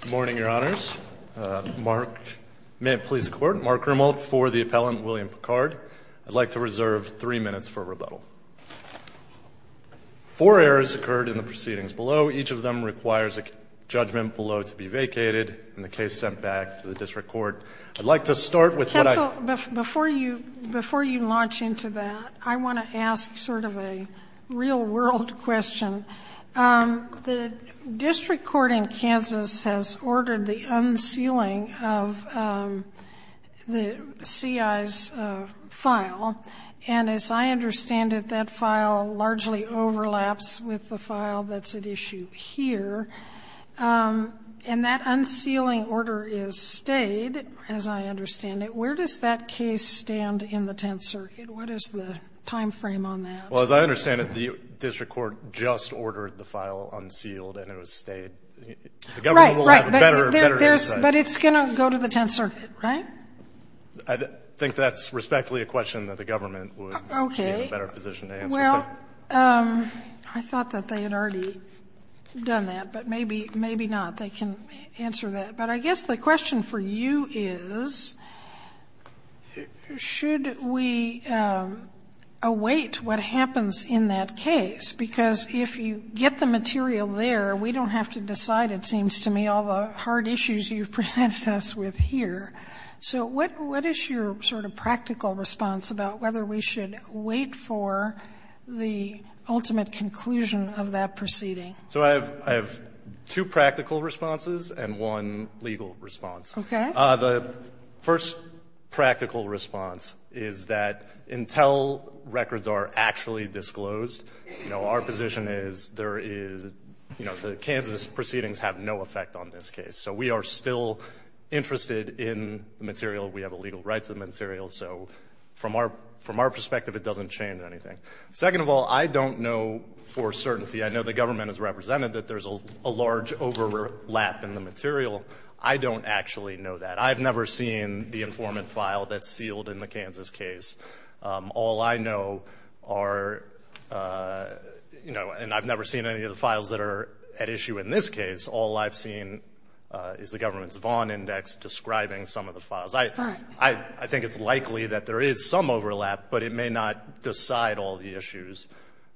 Good morning, Your Honors. May it please the Court, Mark Grimald for the appellant, William Pickard. I'd like to reserve three minutes for rebuttal. Four errors occurred in the proceedings below. Each of them requires a judgment below to be vacated and the case sent back to the District Court. I'd like to start with what I would like to ask. Before you launch into that, I want to ask sort of a real-world question. The District Court in Kansas has ordered the unsealing of the case stand in the Tenth Circuit. What is the timeframe on that? Well, as I understand it, the District Court just ordered the file unsealed and it was stayed. The government will have a better oversight. Right, right. But it's going to go to the Tenth Circuit, right? I think that's respectfully a question that the government would be in a better position to answer. Okay. Well, I thought that they had already done that, but maybe not. They can answer that. But I guess the question for you is, should we await what happens in that case? Because if you get the material there, we don't have to decide, it seems to me, all the hard issues you've presented us with here. So what is your sort of practical response about whether we should wait for the ultimate conclusion of that proceeding? So I have two practical responses and one legal response. Okay. The first practical response is that until records are actually disclosed, our position is the Kansas proceedings have no effect on this case. So we are still interested in the material. We have a legal right to the material. So from our perspective, it doesn't change anything. Second of all, I don't know for certainty. I know the government has represented that there's a large overlap in the material. I don't actually know that. I've never seen the informant file that's sealed in the Kansas case. All I know are, you know, and I've never seen any of the files that are at issue in this case. All I've seen is the government's Vaughn Index describing some of the files. I think it's likely that there is some overlap, but it may not decide all the issues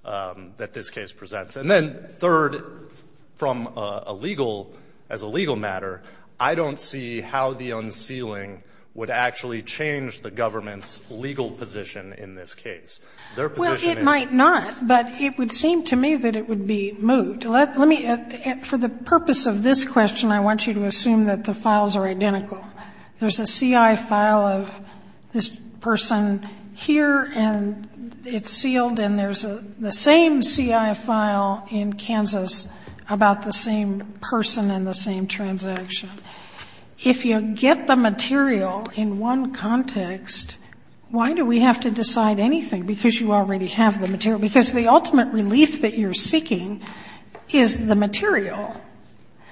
that this case presents. And then third, from a legal, as a legal matter, I don't see how the unsealing would actually change the government's legal position in this case. Well, it might not, but it would seem to me that it would be moot. Let me, for the purpose of this question, I want you to assume that the files are identical. There's a CI file of this person here, and it's sealed, and there's the same CI file in Kansas about the same person and the same transaction. If you get the material in one context, why do we have to decide anything? Because you already have the material. Because the ultimate relief that you're seeking is the material.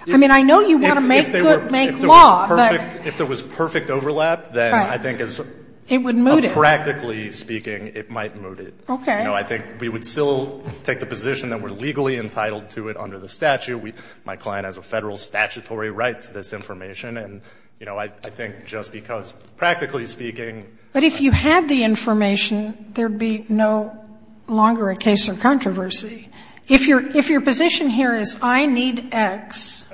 I mean, I know you want to make good, make law, but. If there was perfect overlap, then I think it's. It would moot it. Practically speaking, it might moot it. Okay. I think we would still take the position that we're legally entitled to it under the statute. My client has a Federal statutory right to this information, and, you know, I think just because practically speaking. But if you had the information, there would be no longer a case of controversy. If your position here is I need X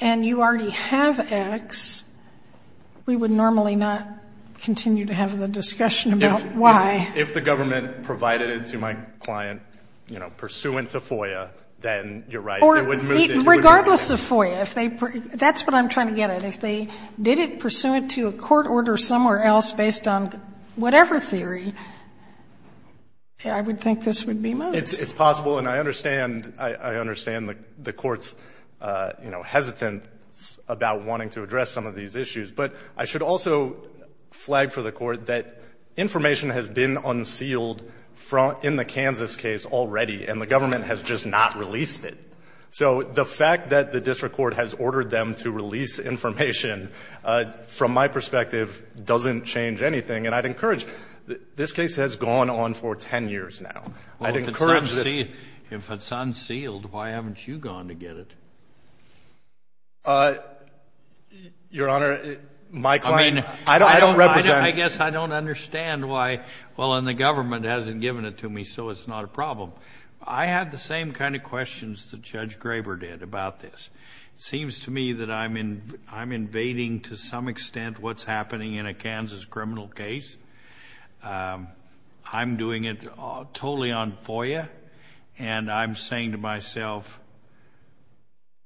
and you already have X, we would normally not continue to have the discussion about Y. If the government provided it to my client, you know, pursuant to FOIA, then you're right. It would moot it. Regardless of FOIA, if they... that's what I'm trying to get at. If they did it pursuant to a court order somewhere else based on whatever theory, I would think this would be moot. It's possible, and I understand. I understand the Court's, you know, hesitance about wanting to address some of these issues. But I should also flag for the Court that information has been unsealed in the Kansas case already, and the government has just not released it. So the fact that the district court has ordered them to release information, from my perspective, doesn't change anything. And I'd encourage... this case has gone on for 10 years now. I'd encourage this... If it's unsealed, why haven't you gone to get it? Your Honor, my client... I mean... I don't represent... I guess I don't understand why... Well, and the government hasn't given it to me, so it's not a problem. I have the same kind of questions that Judge Graber did about this. It seems to me that I'm invading, to some extent, what's happening in a Kansas criminal case. I'm doing it totally on FOIA. And I'm saying to myself,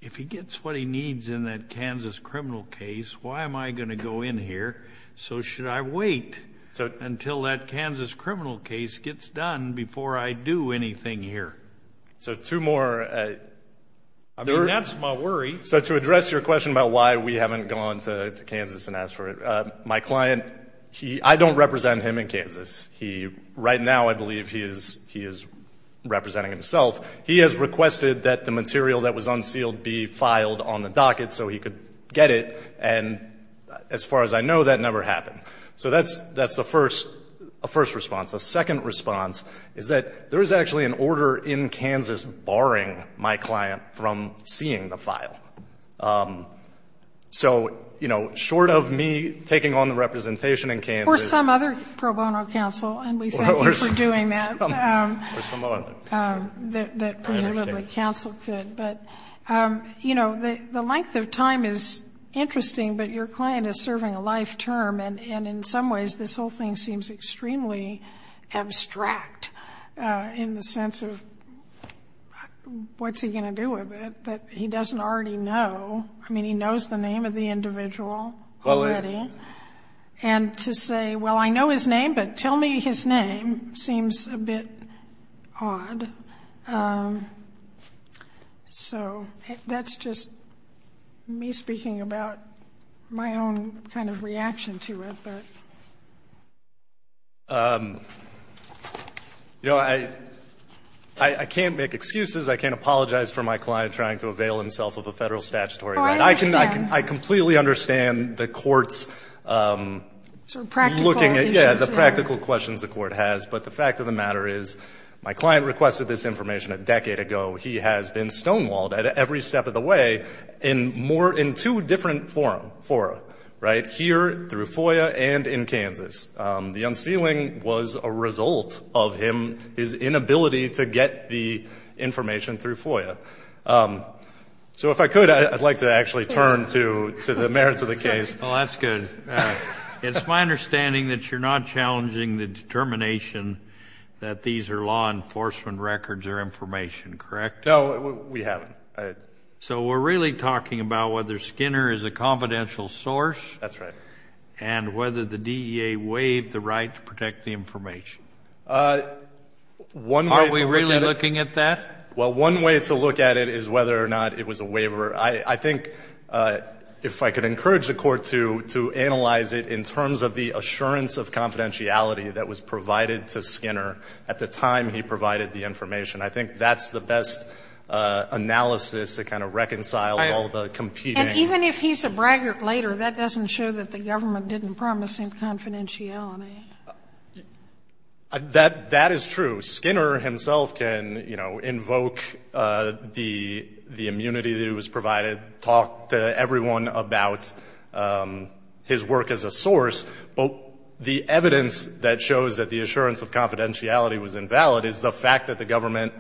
if he gets what he needs in that Kansas criminal case, why am I going to go in here? So should I wait until that Kansas criminal case gets done before I do anything here? So two more... I mean, that's my worry. So to address your question about why we haven't gone to Kansas and asked for it, my client... I don't represent him in Kansas. Right now, I believe he is representing himself. He has requested that the material that was unsealed be filed on the docket so he could get it. And as far as I know, that never happened. So that's the first response. The second response is that there is actually an order in Kansas barring my client from seeing the file. So, you know, short of me taking on the representation in Kansas... And we thank you for doing that. That presumably counsel could. But, you know, the length of time is interesting, but your client is serving a life term. And in some ways, this whole thing seems extremely abstract in the sense of what's he going to do with it, that he doesn't already know. I mean, he knows the name of the individual already. And to say, well, I know his name, but tell me his name seems a bit odd. So that's just me speaking about my own kind of reaction to it. You know, I can't make excuses. I can't apologize for my client trying to avail himself of a federal statutory right. Oh, I understand. I completely understand the court's looking at the practical questions the court has. But the fact of the matter is my client requested this information a decade ago. He has been stonewalled at every step of the way in two different fora, right, here through FOIA and in Kansas. The unsealing was a result of his inability to get the information through FOIA. So if I could, I'd like to actually turn to the merits of the case. Well, that's good. It's my understanding that you're not challenging the determination that these are law enforcement records or information, correct? No, we haven't. So we're really talking about whether Skinner is a confidential source. That's right. And whether the DEA waived the right to protect the information. Are we really looking at that? Well, one way to look at it is whether or not it was a waiver. I think if I could encourage the court to analyze it in terms of the assurance of confidentiality that was provided to Skinner at the time he provided the information. I think that's the best analysis to kind of reconcile all the competing. And even if he's a braggart later, that doesn't show that the government didn't promise him confidentiality. That is true. Skinner himself can invoke the immunity that he was provided, talk to everyone about his work as a source. But the evidence that shows that the assurance of confidentiality was invalid is the fact that the government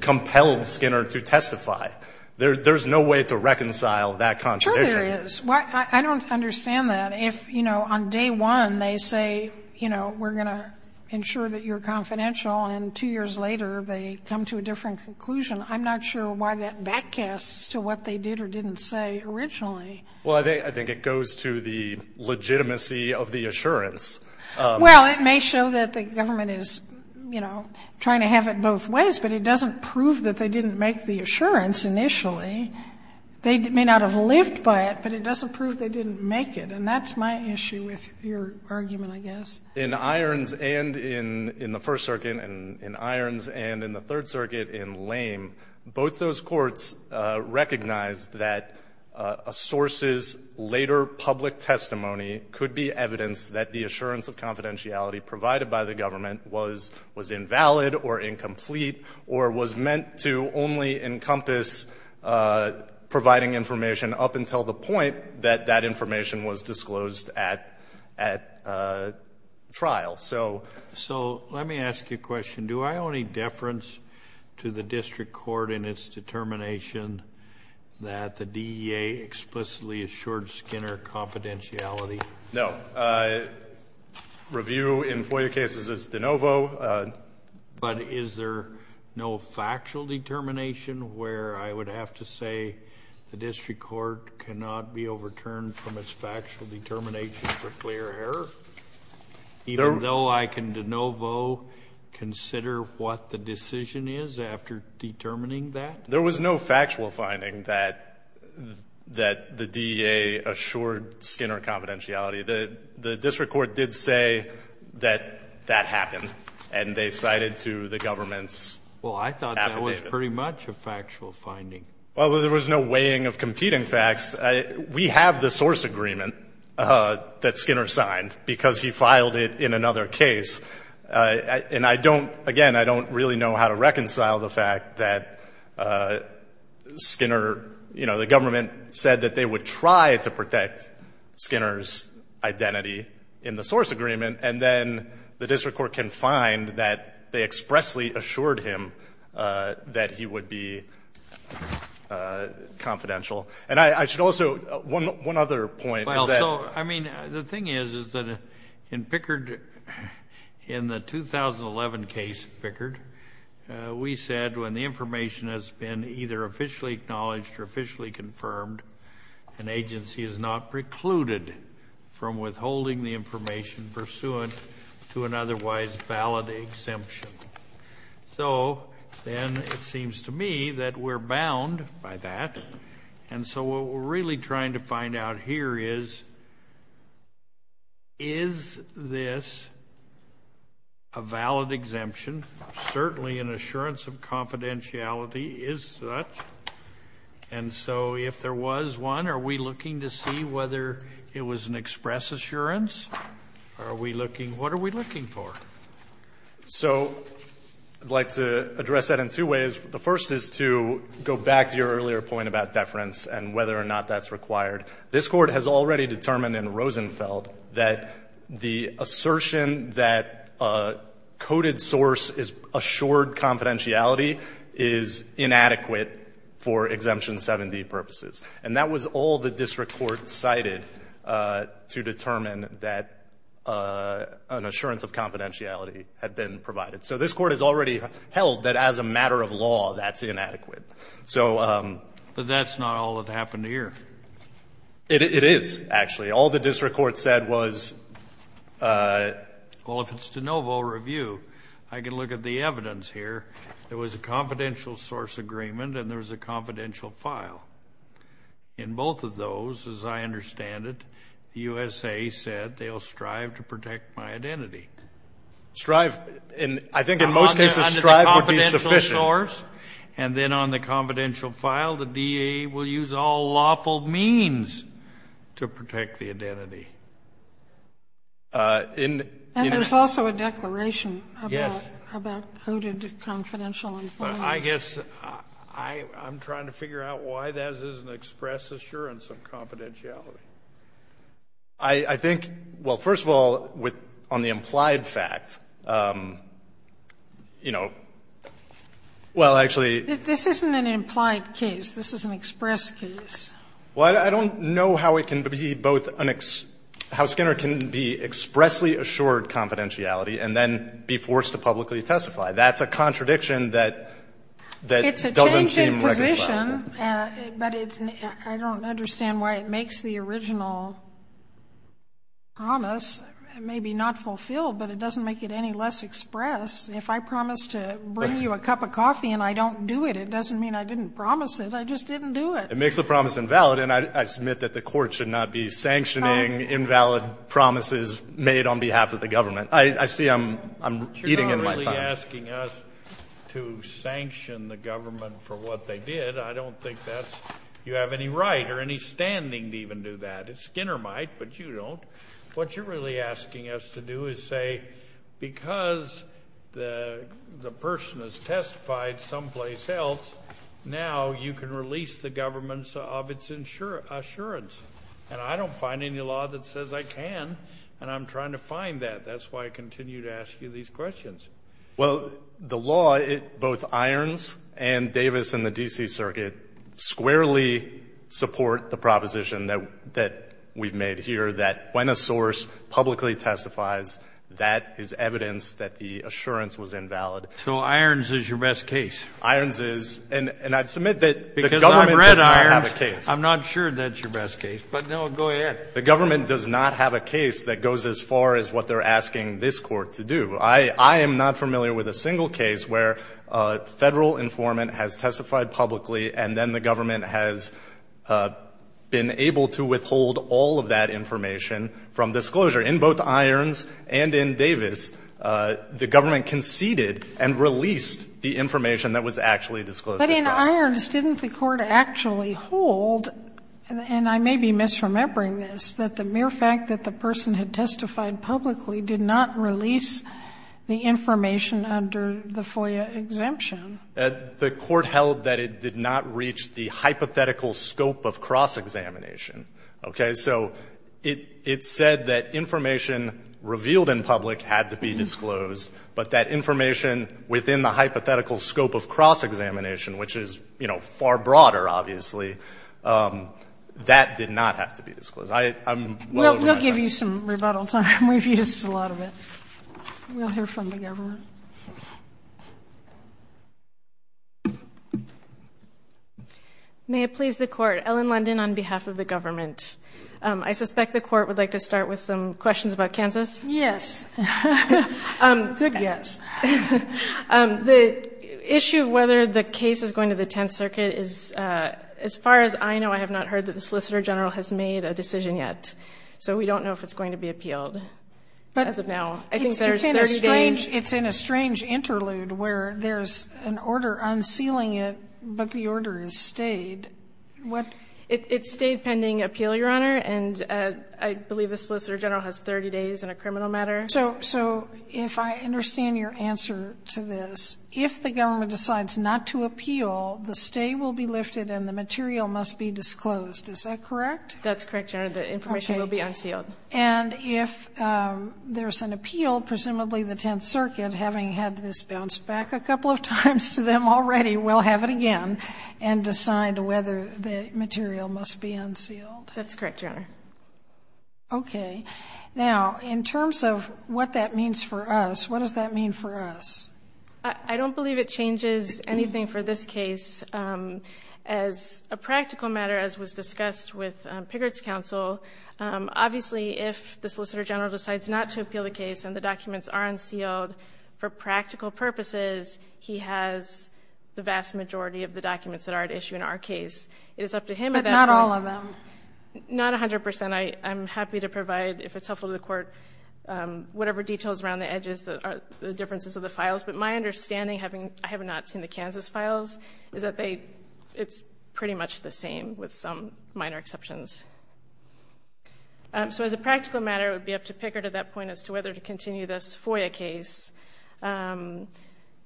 compelled Skinner to testify. There's no way to reconcile that contradiction. Sure there is. I don't understand that. And if, you know, on day one they say, you know, we're going to ensure that you're confidential, and two years later they come to a different conclusion, I'm not sure why that back casts to what they did or didn't say originally. Well, I think it goes to the legitimacy of the assurance. Well, it may show that the government is, you know, trying to have it both ways. But it doesn't prove that they didn't make the assurance initially. They may not have lived by it, but it doesn't prove they didn't make it. And that's my issue with your argument, I guess. In Irons and in the First Circuit, and in Irons and in the Third Circuit in Lame, both those courts recognized that a source's later public testimony could be evidence that the assurance of confidentiality provided by the government was invalid or incomplete or was meant to only encompass providing information up until the point that that information was disclosed at trial. So let me ask you a question. Do I owe any deference to the district court in its determination that the DEA explicitly assured Skinner confidentiality? No. Review in FOIA cases is de novo. But is there no factual determination where I would have to say the district court cannot be overturned from its factual determination for clear error, even though I can de novo consider what the decision is after determining that? There was no factual finding that the DEA assured Skinner confidentiality. The district court did say that that happened, and they cited to the government's affidavit. Well, I thought that was pretty much a factual finding. Well, there was no weighing of competing facts. We have the source agreement that Skinner signed because he filed it in another case. And I don't, again, I don't really know how to reconcile the fact that Skinner, you know, the government said that they would try to protect Skinner's identity in the source agreement, and then the district court can find that they expressly assured him that he would be confidential. And I should also, one other point is that. Well, so, I mean, the thing is, is that in Pickard, in the 2011 case, Pickard, we said when the information has been either officially acknowledged or officially confirmed, an agency is not precluded from withholding the information pursuant to an otherwise valid exemption. So then it seems to me that we're bound by that. And so what we're really trying to find out here is, is this a valid exemption? Certainly an assurance of confidentiality is such. And so if there was one, are we looking to see whether it was an express assurance? Are we looking, what are we looking for? So I'd like to address that in two ways. The first is to go back to your earlier point about deference and whether or not that's required. This Court has already determined in Rosenfeld that the assertion that a coded source is assured confidentiality is inadequate for Exemption 7D purposes. And that was all the district court cited to determine that an assurance of confidentiality had been provided. So this Court has already held that as a matter of law, that's inadequate. So... But that's not all that happened here. It is, actually. All the district court said was... Well, if it's de novo review, I can look at the evidence here. There was a confidential source agreement and there was a confidential file. In both of those, as I understand it, the USA said they'll strive to protect my identity. Strive. I think in most cases strive would be sufficient. And then on the confidential file, the DA will use all lawful means to protect the identity. And there's also a declaration about coded confidential information. I guess I'm trying to figure out why that is an express assurance of confidentiality. I think, well, first of all, on the implied fact, you know, well, actually... This isn't an implied case. This is an express case. Well, I don't know how it can be both an ex – how Skinner can be expressly assured confidentiality and then be forced to publicly testify. That's a contradiction that doesn't seem recognized. But I don't understand why it makes the original promise maybe not fulfilled, but it doesn't make it any less express. If I promise to bring you a cup of coffee and I don't do it, it doesn't mean I didn't promise it. I just didn't do it. It makes the promise invalid. And I submit that the Court should not be sanctioning invalid promises made on behalf of the government. I see I'm eating in my time. You're really asking us to sanction the government for what they did. I don't think that's – you have any right or any standing to even do that. Skinner might, but you don't. What you're really asking us to do is say because the person has testified someplace else, now you can release the government of its assurance. And I don't find any law that says I can, and I'm trying to find that. That's why I continue to ask you these questions. Well, the law, both Irons and Davis and the D.C. Circuit squarely support the proposition that we've made here that when a source publicly testifies, that is evidence that the assurance was invalid. So Irons is your best case? Irons is. And I submit that the government does not have a case. Because I've read Irons, I'm not sure that's your best case. But, no, go ahead. The government does not have a case that goes as far as what they're asking this Court to do. I am not familiar with a single case where a Federal informant has testified publicly and then the government has been able to withhold all of that information from disclosure. In both Irons and in Davis, the government conceded and released the information that was actually disclosed. But in Irons, didn't the Court actually hold, and I may be misremembering this, that the mere fact that the person had testified publicly did not release the information under the FOIA exemption? The Court held that it did not reach the hypothetical scope of cross-examination. Okay? So it said that information revealed in public had to be disclosed, but that information within the hypothetical scope of cross-examination, which is far broader, obviously, that did not have to be disclosed. We'll give you some rebuttal time. We've used a lot of it. We'll hear from the government. May it please the Court, Ellen London on behalf of the government. I suspect the Court would like to start with some questions about Kansas. Yes. Good guess. The issue of whether the case is going to the Tenth Circuit is, as far as I know, I have not heard that the Solicitor General has made a decision yet. So we don't know if it's going to be appealed as of now. I think there's 30 days. But it's in a strange interlude where there's an order unsealing it, but the order has stayed. It stayed pending appeal, Your Honor, and I believe the Solicitor General has 30 days in a criminal matter. So if I understand your answer to this, if the government decides not to appeal, the stay will be lifted and the material must be disclosed. Is that correct? That's correct, Your Honor. The information will be unsealed. And if there's an appeal, presumably the Tenth Circuit, having had this bounced back a couple of times to them already, will have it again and decide whether the material must be unsealed. That's correct, Your Honor. Okay. Now, in terms of what that means for us, what does that mean for us? I don't believe it changes anything for this case. As a practical matter, as was discussed with Piggott's counsel, obviously if the Solicitor General decides not to appeal the case and the documents are unsealed, for practical purposes, he has the vast majority of the documents that are at issue in our case. It is up to him. But not all of them? Not 100 percent. And I'm happy to provide, if it's helpful to the Court, whatever details around the edges, the differences of the files. But my understanding, having not seen the Kansas files, is that it's pretty much the same with some minor exceptions. So as a practical matter, it would be up to Piggott at that point as to whether to continue this FOIA case. From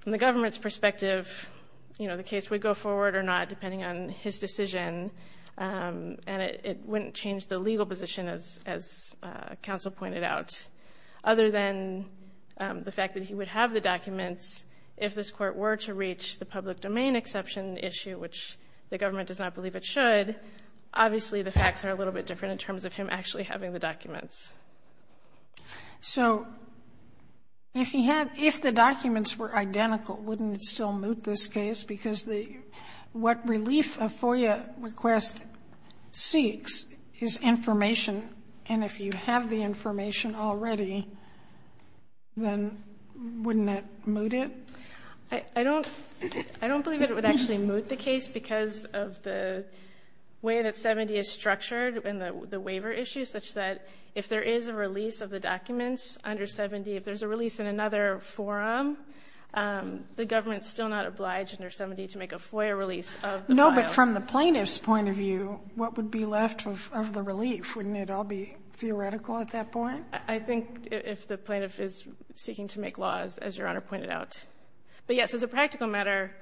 the government's perspective, you know, the case would go forward or not as counsel pointed out. Other than the fact that he would have the documents, if this Court were to reach the public domain exception issue, which the government does not believe it should, obviously the facts are a little bit different in terms of him actually having the documents. So if he had, if the documents were identical, wouldn't it still moot this case? Because what relief a FOIA request seeks is information. And if you have the information already, then wouldn't that moot it? I don't believe it would actually moot the case because of the way that 70 is structured and the waiver issue, such that if there is a release of the documents under 70, if there's a release in another forum, the government's still not obliged under 70 to make a FOIA release of the file. No, but from the plaintiff's point of view, what would be left of the relief? Wouldn't it all be theoretical at that point? I think if the plaintiff is seeking to make laws, as Your Honor pointed out. But, yes, as a practical matter,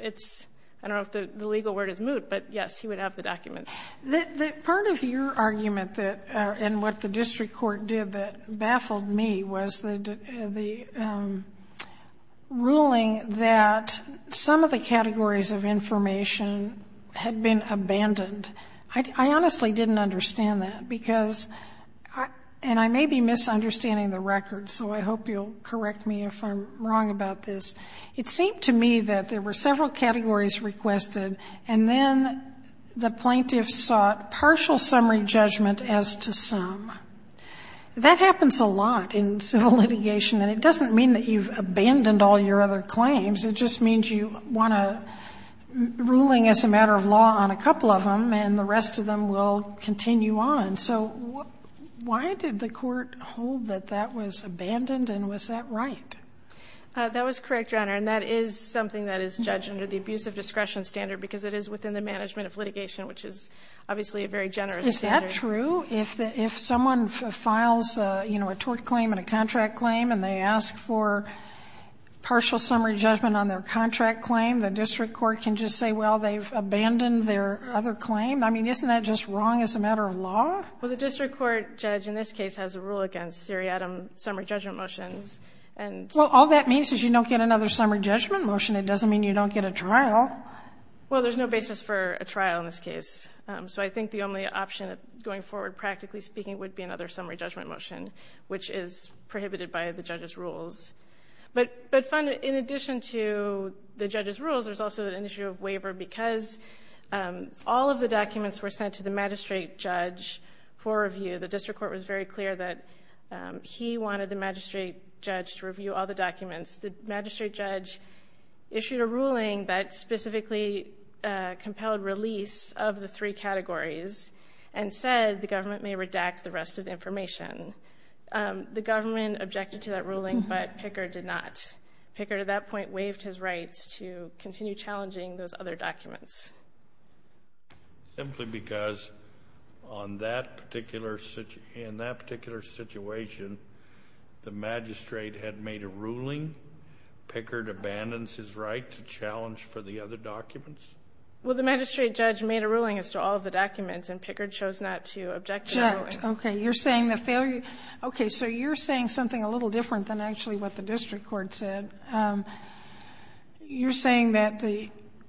it's, I don't know if the legal word is moot, but, yes, he would have the documents. The part of your argument that, and what the district court did that baffled me was the ruling that some of the categories of information had been abandoned. I honestly didn't understand that because, and I may be misunderstanding the record, so I hope you'll correct me if I'm wrong about this. It seemed to me that there were several categories requested, and then the plaintiff sought partial summary judgment as to some. That happens a lot in civil litigation, and it doesn't mean that you've abandoned all your other claims. It just means you want a ruling as a matter of law on a couple of them, and the rest of them will continue on. So why did the court hold that that was abandoned, and was that right? That was correct, Your Honor, and that is something that is judged under the abusive discretion standard because it is within the management of litigation, which is obviously a very generous standard. Isn't that true? If someone files a tort claim and a contract claim and they ask for partial summary judgment on their contract claim, the district court can just say, well, they've abandoned their other claim? I mean, isn't that just wrong as a matter of law? Well, the district court judge in this case has a rule against seriatim summary judgment motions. Well, all that means is you don't get another summary judgment motion. It doesn't mean you don't get a trial. Well, there's no basis for a trial in this case. So I think the only option going forward, practically speaking, would be another summary judgment motion, which is prohibited by the judge's rules. But in addition to the judge's rules, there's also an issue of waiver because all of the documents were sent to the magistrate judge for review. The district court was very clear that he wanted the magistrate judge to review all the documents. The magistrate judge issued a ruling that specifically compelled release of the three categories and said the government may redact the rest of the information. The government objected to that ruling, but Pickard did not. Pickard, at that point, waived his rights to continue challenging those other documents. Simply because in that particular situation, the magistrate had made a ruling. Pickard abandons his right to challenge for the other documents? Well, the magistrate judge made a ruling as to all of the documents, and Pickard chose not to object to that ruling. Okay. You're saying the failure? Okay. So you're saying something a little different than actually what the district court said. You're saying that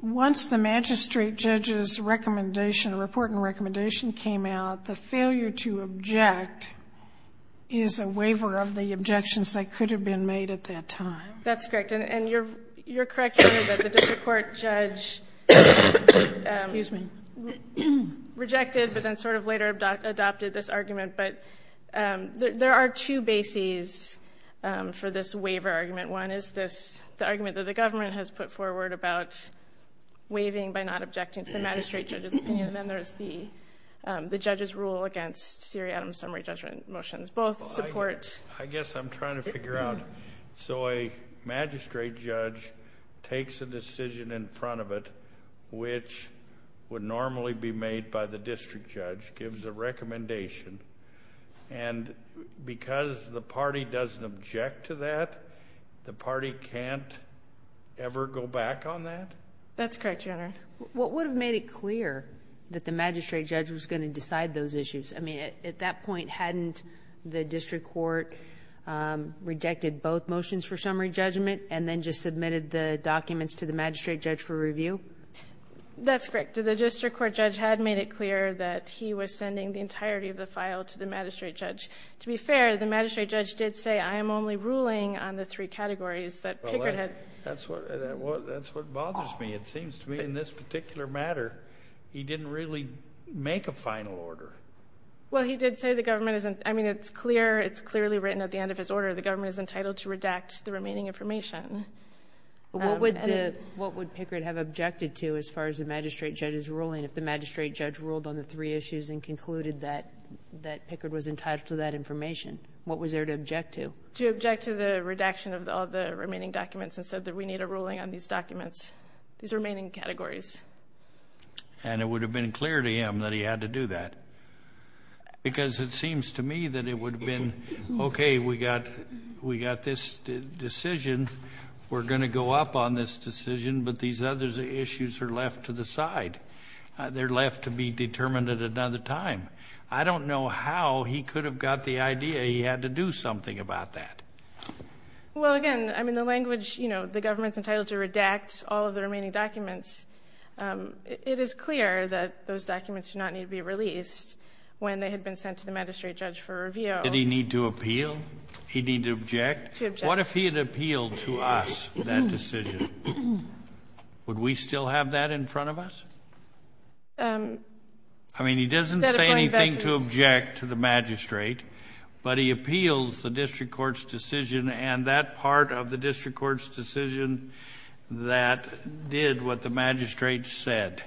once the magistrate judge's recommendation, report and recommendation came out, the failure to object is a waiver of the objections that could have been made at that time? That's correct. And you're correct, Your Honor, that the district court judge rejected, but then sort of later adopted this argument. But there are two bases for this waiver argument. One is the argument that the government has put forward about waiving by not objecting to the magistrate judge's opinion. Then there's the judge's rule against Siri Adams' summary judgment motions. Both support. I guess I'm trying to figure out. So a magistrate judge takes a decision in front of it, which would normally be made by the district judge, gives a recommendation, and because the party doesn't object to that, the party can't ever go back on that? That's correct, Your Honor. What would have made it clear that the magistrate judge was going to decide those issues? I mean, at that point, hadn't the district court rejected both motions for summary judgment and then just submitted the documents to the magistrate judge for review? That's correct. The district court judge had made it clear that he was sending the entirety of the file to the magistrate judge. To be fair, the magistrate judge did say, I am only ruling on the three categories that Pickard had. That's what bothers me. It seems to me in this particular matter, he didn't really make a final order. Well, he did say the government isn't... I mean, it's clear. It's clearly written at the end of his order. The government is entitled to redact the remaining information. What would Pickard have objected to as far as the magistrate judge's ruling if the magistrate judge ruled on the three issues and concluded that Pickard was entitled to that information? What was there to object to? To object to the redaction of all the remaining documents and said that we need a ruling on these documents, these remaining categories. And it would have been clear to him that he had to do that. Because it seems to me that it would have been, okay, we got this decision, we're going to go up on this decision, but these other issues are left to the side. They're left to be determined at another time. I don't know how he could have got the idea he had to do something about that. Well, again, I mean, the language, you know, the government's entitled to redact all of the remaining documents. It is clear that those documents do not need to be released when they had been sent to the magistrate judge for review. Did he need to appeal? He'd need to object? To object. What if he had appealed to us that decision? Would we still have that in front of us? I mean, he doesn't say anything to object to the magistrate, but he appeals the district court's decision, and that part of the district court's decision that did what the magistrate said.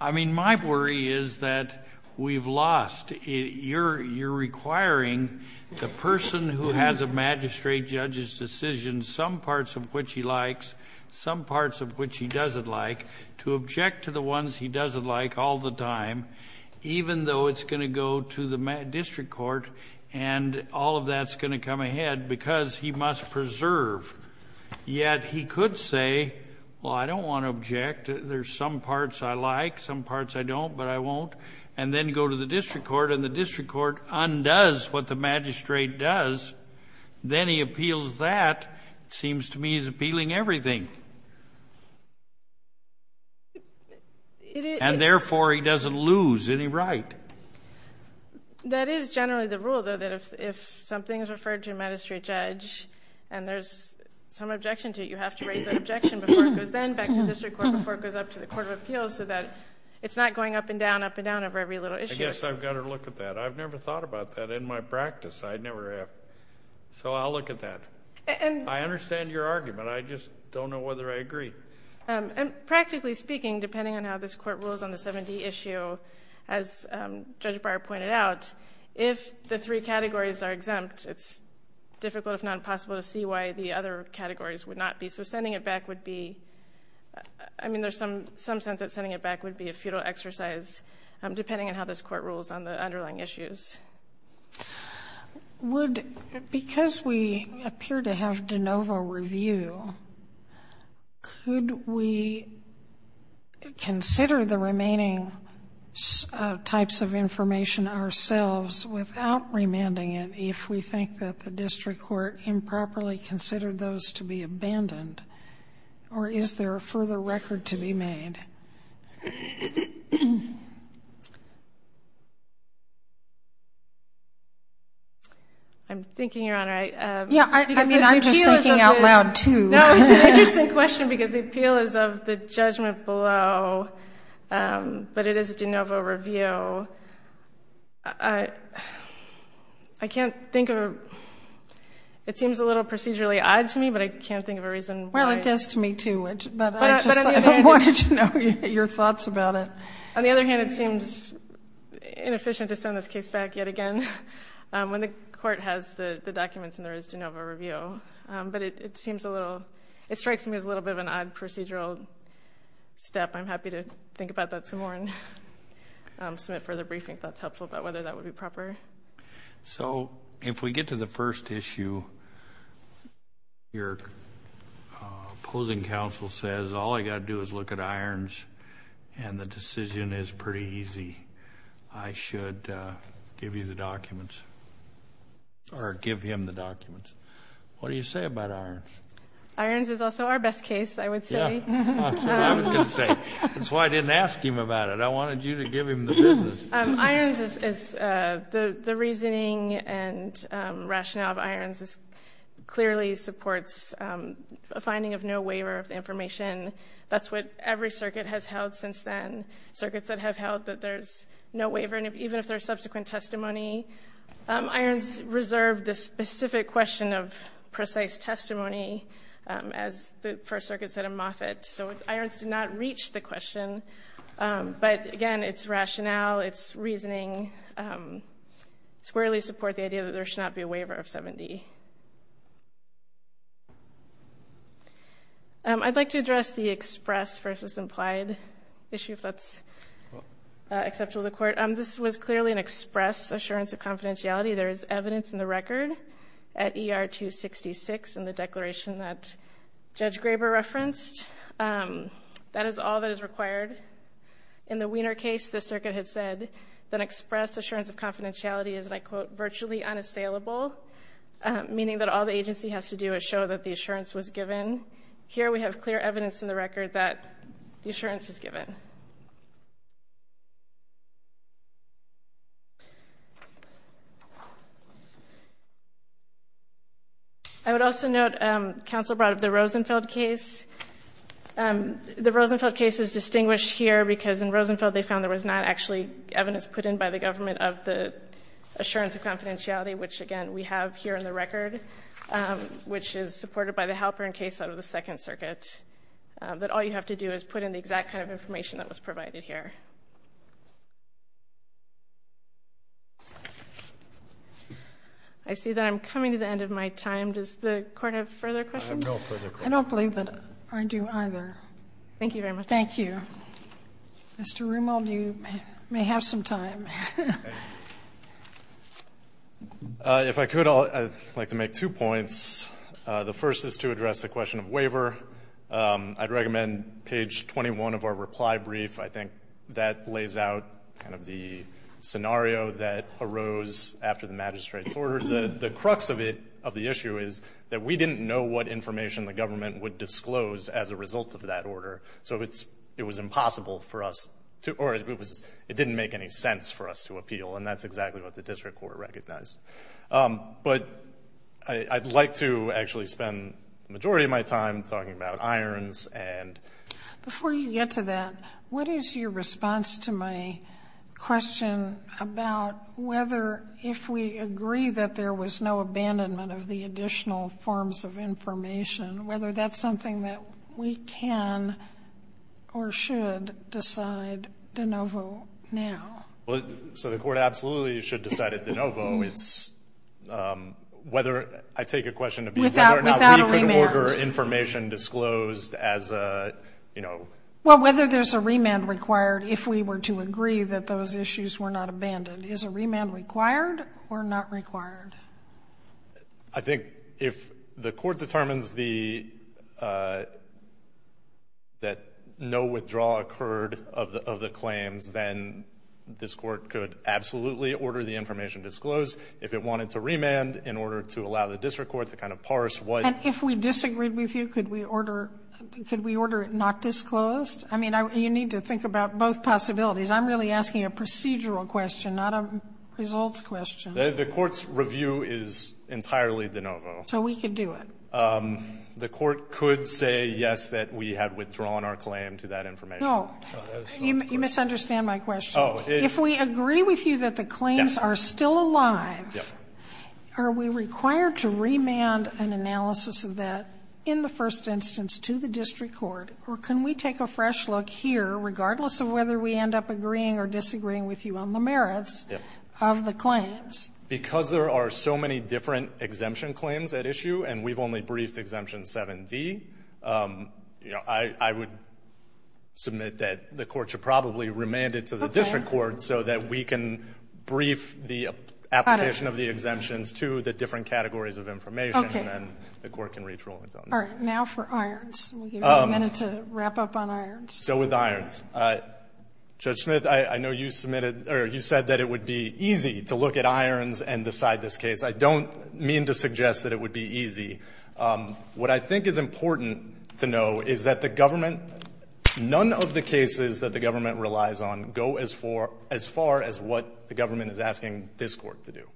I mean, my worry is that we've lost. You're requiring the person who has a magistrate judge's decision, some parts of which he likes, some parts of which he doesn't like, to object to the ones he doesn't like all the time, even though it's going to go to the district court, and all of that's going to come ahead because he must preserve. Yet he could say, well, I don't want to object. There's some parts I like, some parts I don't, but I won't, and then go to the district court, and the district court undoes what the magistrate does. Then he appeals that. It seems to me he's appealing everything. And, therefore, he doesn't lose any right. That is generally the rule, though, that if something is referred to a magistrate judge and there's some objection to it, you have to raise that objection before it goes then back to the district court, before it goes up to the court of appeals, so that it's not going up and down, up and down over every little issue. I guess I've got to look at that. I've never thought about that in my practice. I never have. So I'll look at that. I understand your argument. I just don't know whether I agree. Practically speaking, depending on how this Court rules on the 7D issue, as Judge Barr pointed out, if the three categories are exempt, it's difficult, if not impossible, to see why the other categories would not be. So sending it back would be, I mean, there's some sense that sending it back would be a futile exercise, depending on how this Court rules on the underlying issues. Because we appear to have de novo review, could we consider the remaining types of information ourselves without remanding it if we think that the district court improperly considered those to be abandoned, or is there a further record to be made? I'm thinking, Your Honor. Yeah, I mean, I'm just thinking out loud, too. No, it's an interesting question because the appeal is of the judgment below, but it is de novo review. I can't think of a... It seems a little procedurally odd to me, but I can't think of a reason why... Well, it does to me, too. But I just wanted to know your thoughts about it. On the other hand, it seems inefficient to send this case back yet again when the Court has the documents and there is de novo review. But it seems a little... It strikes me as a little bit of an odd procedural step. I'm happy to think about that some more and submit further briefing if that's helpful, about whether that would be proper. So if we get to the first issue, your opposing counsel says, all I've got to do is look at Irons and the decision is pretty easy. I should give you the documents or give him the documents. What do you say about Irons? Irons is also our best case, I would say. That's what I was going to say. That's why I didn't ask him about it. I wanted you to give him the business. Irons is the reasoning and rationale of Irons clearly supports a finding of no waiver of the information. That's what every circuit has held since then, circuits that have held that there's no waiver, even if there's subsequent testimony. Irons reserved the specific question of precise testimony, as the First Circuit said in Moffitt. So Irons did not reach the question. But, again, it's rationale, it's reasoning, squarely support the idea that there should not be a waiver of 7D. I'd like to address the express versus implied issue, if that's acceptable to the Court. This was clearly an express assurance of confidentiality. There is evidence in the record at ER 266 in the declaration that Judge Graber referenced. That is all that is required. In the Wiener case, the circuit had said that express assurance of confidentiality is, and I quote, virtually unassailable, meaning that all the agency has to do is show that the assurance was given. Here we have clear evidence in the record that the assurance is given. I would also note, Counsel brought up the Rosenfeld case. The Rosenfeld case is distinguished here because in Rosenfeld, they found there was not actually evidence put in by the government of the assurance of confidentiality, which, again, we have here in the record, which is supported by the Halperin case out of the Second Circuit, that all you have to do is put in the exact kind of information that was given. That was provided here. I see that I'm coming to the end of my time. Does the Court have further questions? I have no further questions. I don't believe that I do either. Thank you very much. Thank you. Mr. Reumold, you may have some time. If I could, I'd like to make two points. The first is to address the question of waiver. I'd recommend page 21 of our reply brief. I think that lays out kind of the scenario that arose after the magistrate's order. The crux of it, of the issue, is that we didn't know what information the government would disclose as a result of that order, so it was impossible for us to, or it didn't make any sense for us to appeal, and that's exactly what the District Court recognized. But I'd like to actually spend the majority of my time talking about irons. Before you get to that, what is your response to my question about whether, if we agree that there was no abandonment of the additional forms of information, whether that's something that we can or should decide de novo now? Well, so the court absolutely should decide it de novo. I take your question to be whether or not we can order information disclosed as a, you know. Well, whether there's a remand required if we were to agree that those issues were not abandoned. Is a remand required or not required? I think if the court determines that no withdrawal occurred of the claims, then this court could absolutely order the information disclosed. If it wanted to remand in order to allow the District Court to kind of parse what. And if we disagreed with you, could we order it not disclosed? I mean, you need to think about both possibilities. I'm really asking a procedural question, not a results question. The court's review is entirely de novo. So we could do it. The court could say yes, that we have withdrawn our claim to that information. No. You misunderstand my question. If we agree with you that the claims are still alive, are we required to remand an analysis of that in the first instance to the District Court? Or can we take a fresh look here, regardless of whether we end up agreeing or disagreeing with you on the merits of the claims? Because there are so many different exemption claims at issue, and we've only briefed I would submit that the court should probably remand it to the District Court so that we can brief the application of the exemptions to the different categories of information, and then the court can reach rulings on that. All right. Now for irons. We'll give you a minute to wrap up on irons. So with irons. Judge Smith, I know you said that it would be easy to look at irons and decide this case. I don't mean to suggest that it would be easy. What I think is important to know is that the government, none of the cases that the government relies on go as far as what the government is asking this court to do.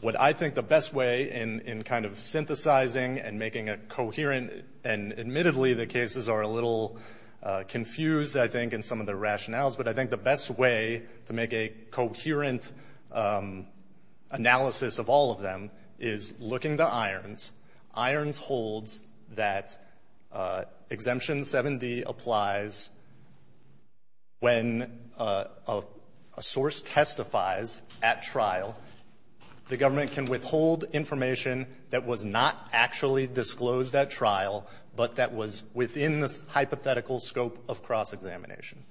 What I think the best way in kind of synthesizing and making a coherent, and admittedly the cases are a little confused, I think, in some of the rationales, but I think the best way to make a coherent analysis of all of them is looking to irons. Irons holds that Exemption 7D applies when a source testifies at trial. The government can withhold information that was not actually disclosed at trial, but that was within the hypothetical scope of cross-examination.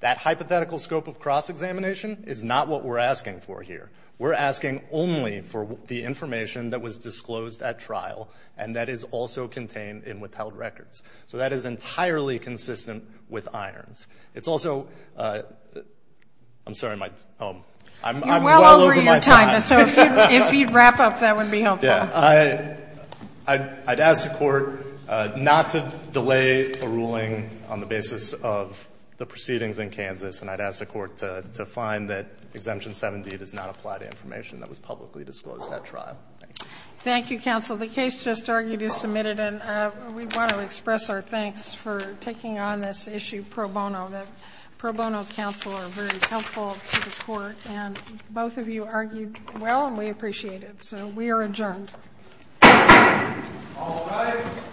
That hypothetical scope of cross-examination is not what we're asking for here. We're asking only for the information that was disclosed at trial and that is also contained in withheld records. So that is entirely consistent with irons. It's also – I'm sorry, my – I'm well over my time. You're well over your time. So if you'd wrap up, that would be helpful. I'd ask the Court not to delay a ruling on the basis of the proceedings in Kansas, and I'd ask the Court to find that Exemption 7D does not apply to information that was publicly disclosed at trial. Thank you. Thank you, counsel. The case just argued is submitted, and we want to express our thanks for taking on this issue pro bono. The pro bono counsel are very helpful to the Court, and both of you argued well, and we appreciate it. So we are adjourned. All rise.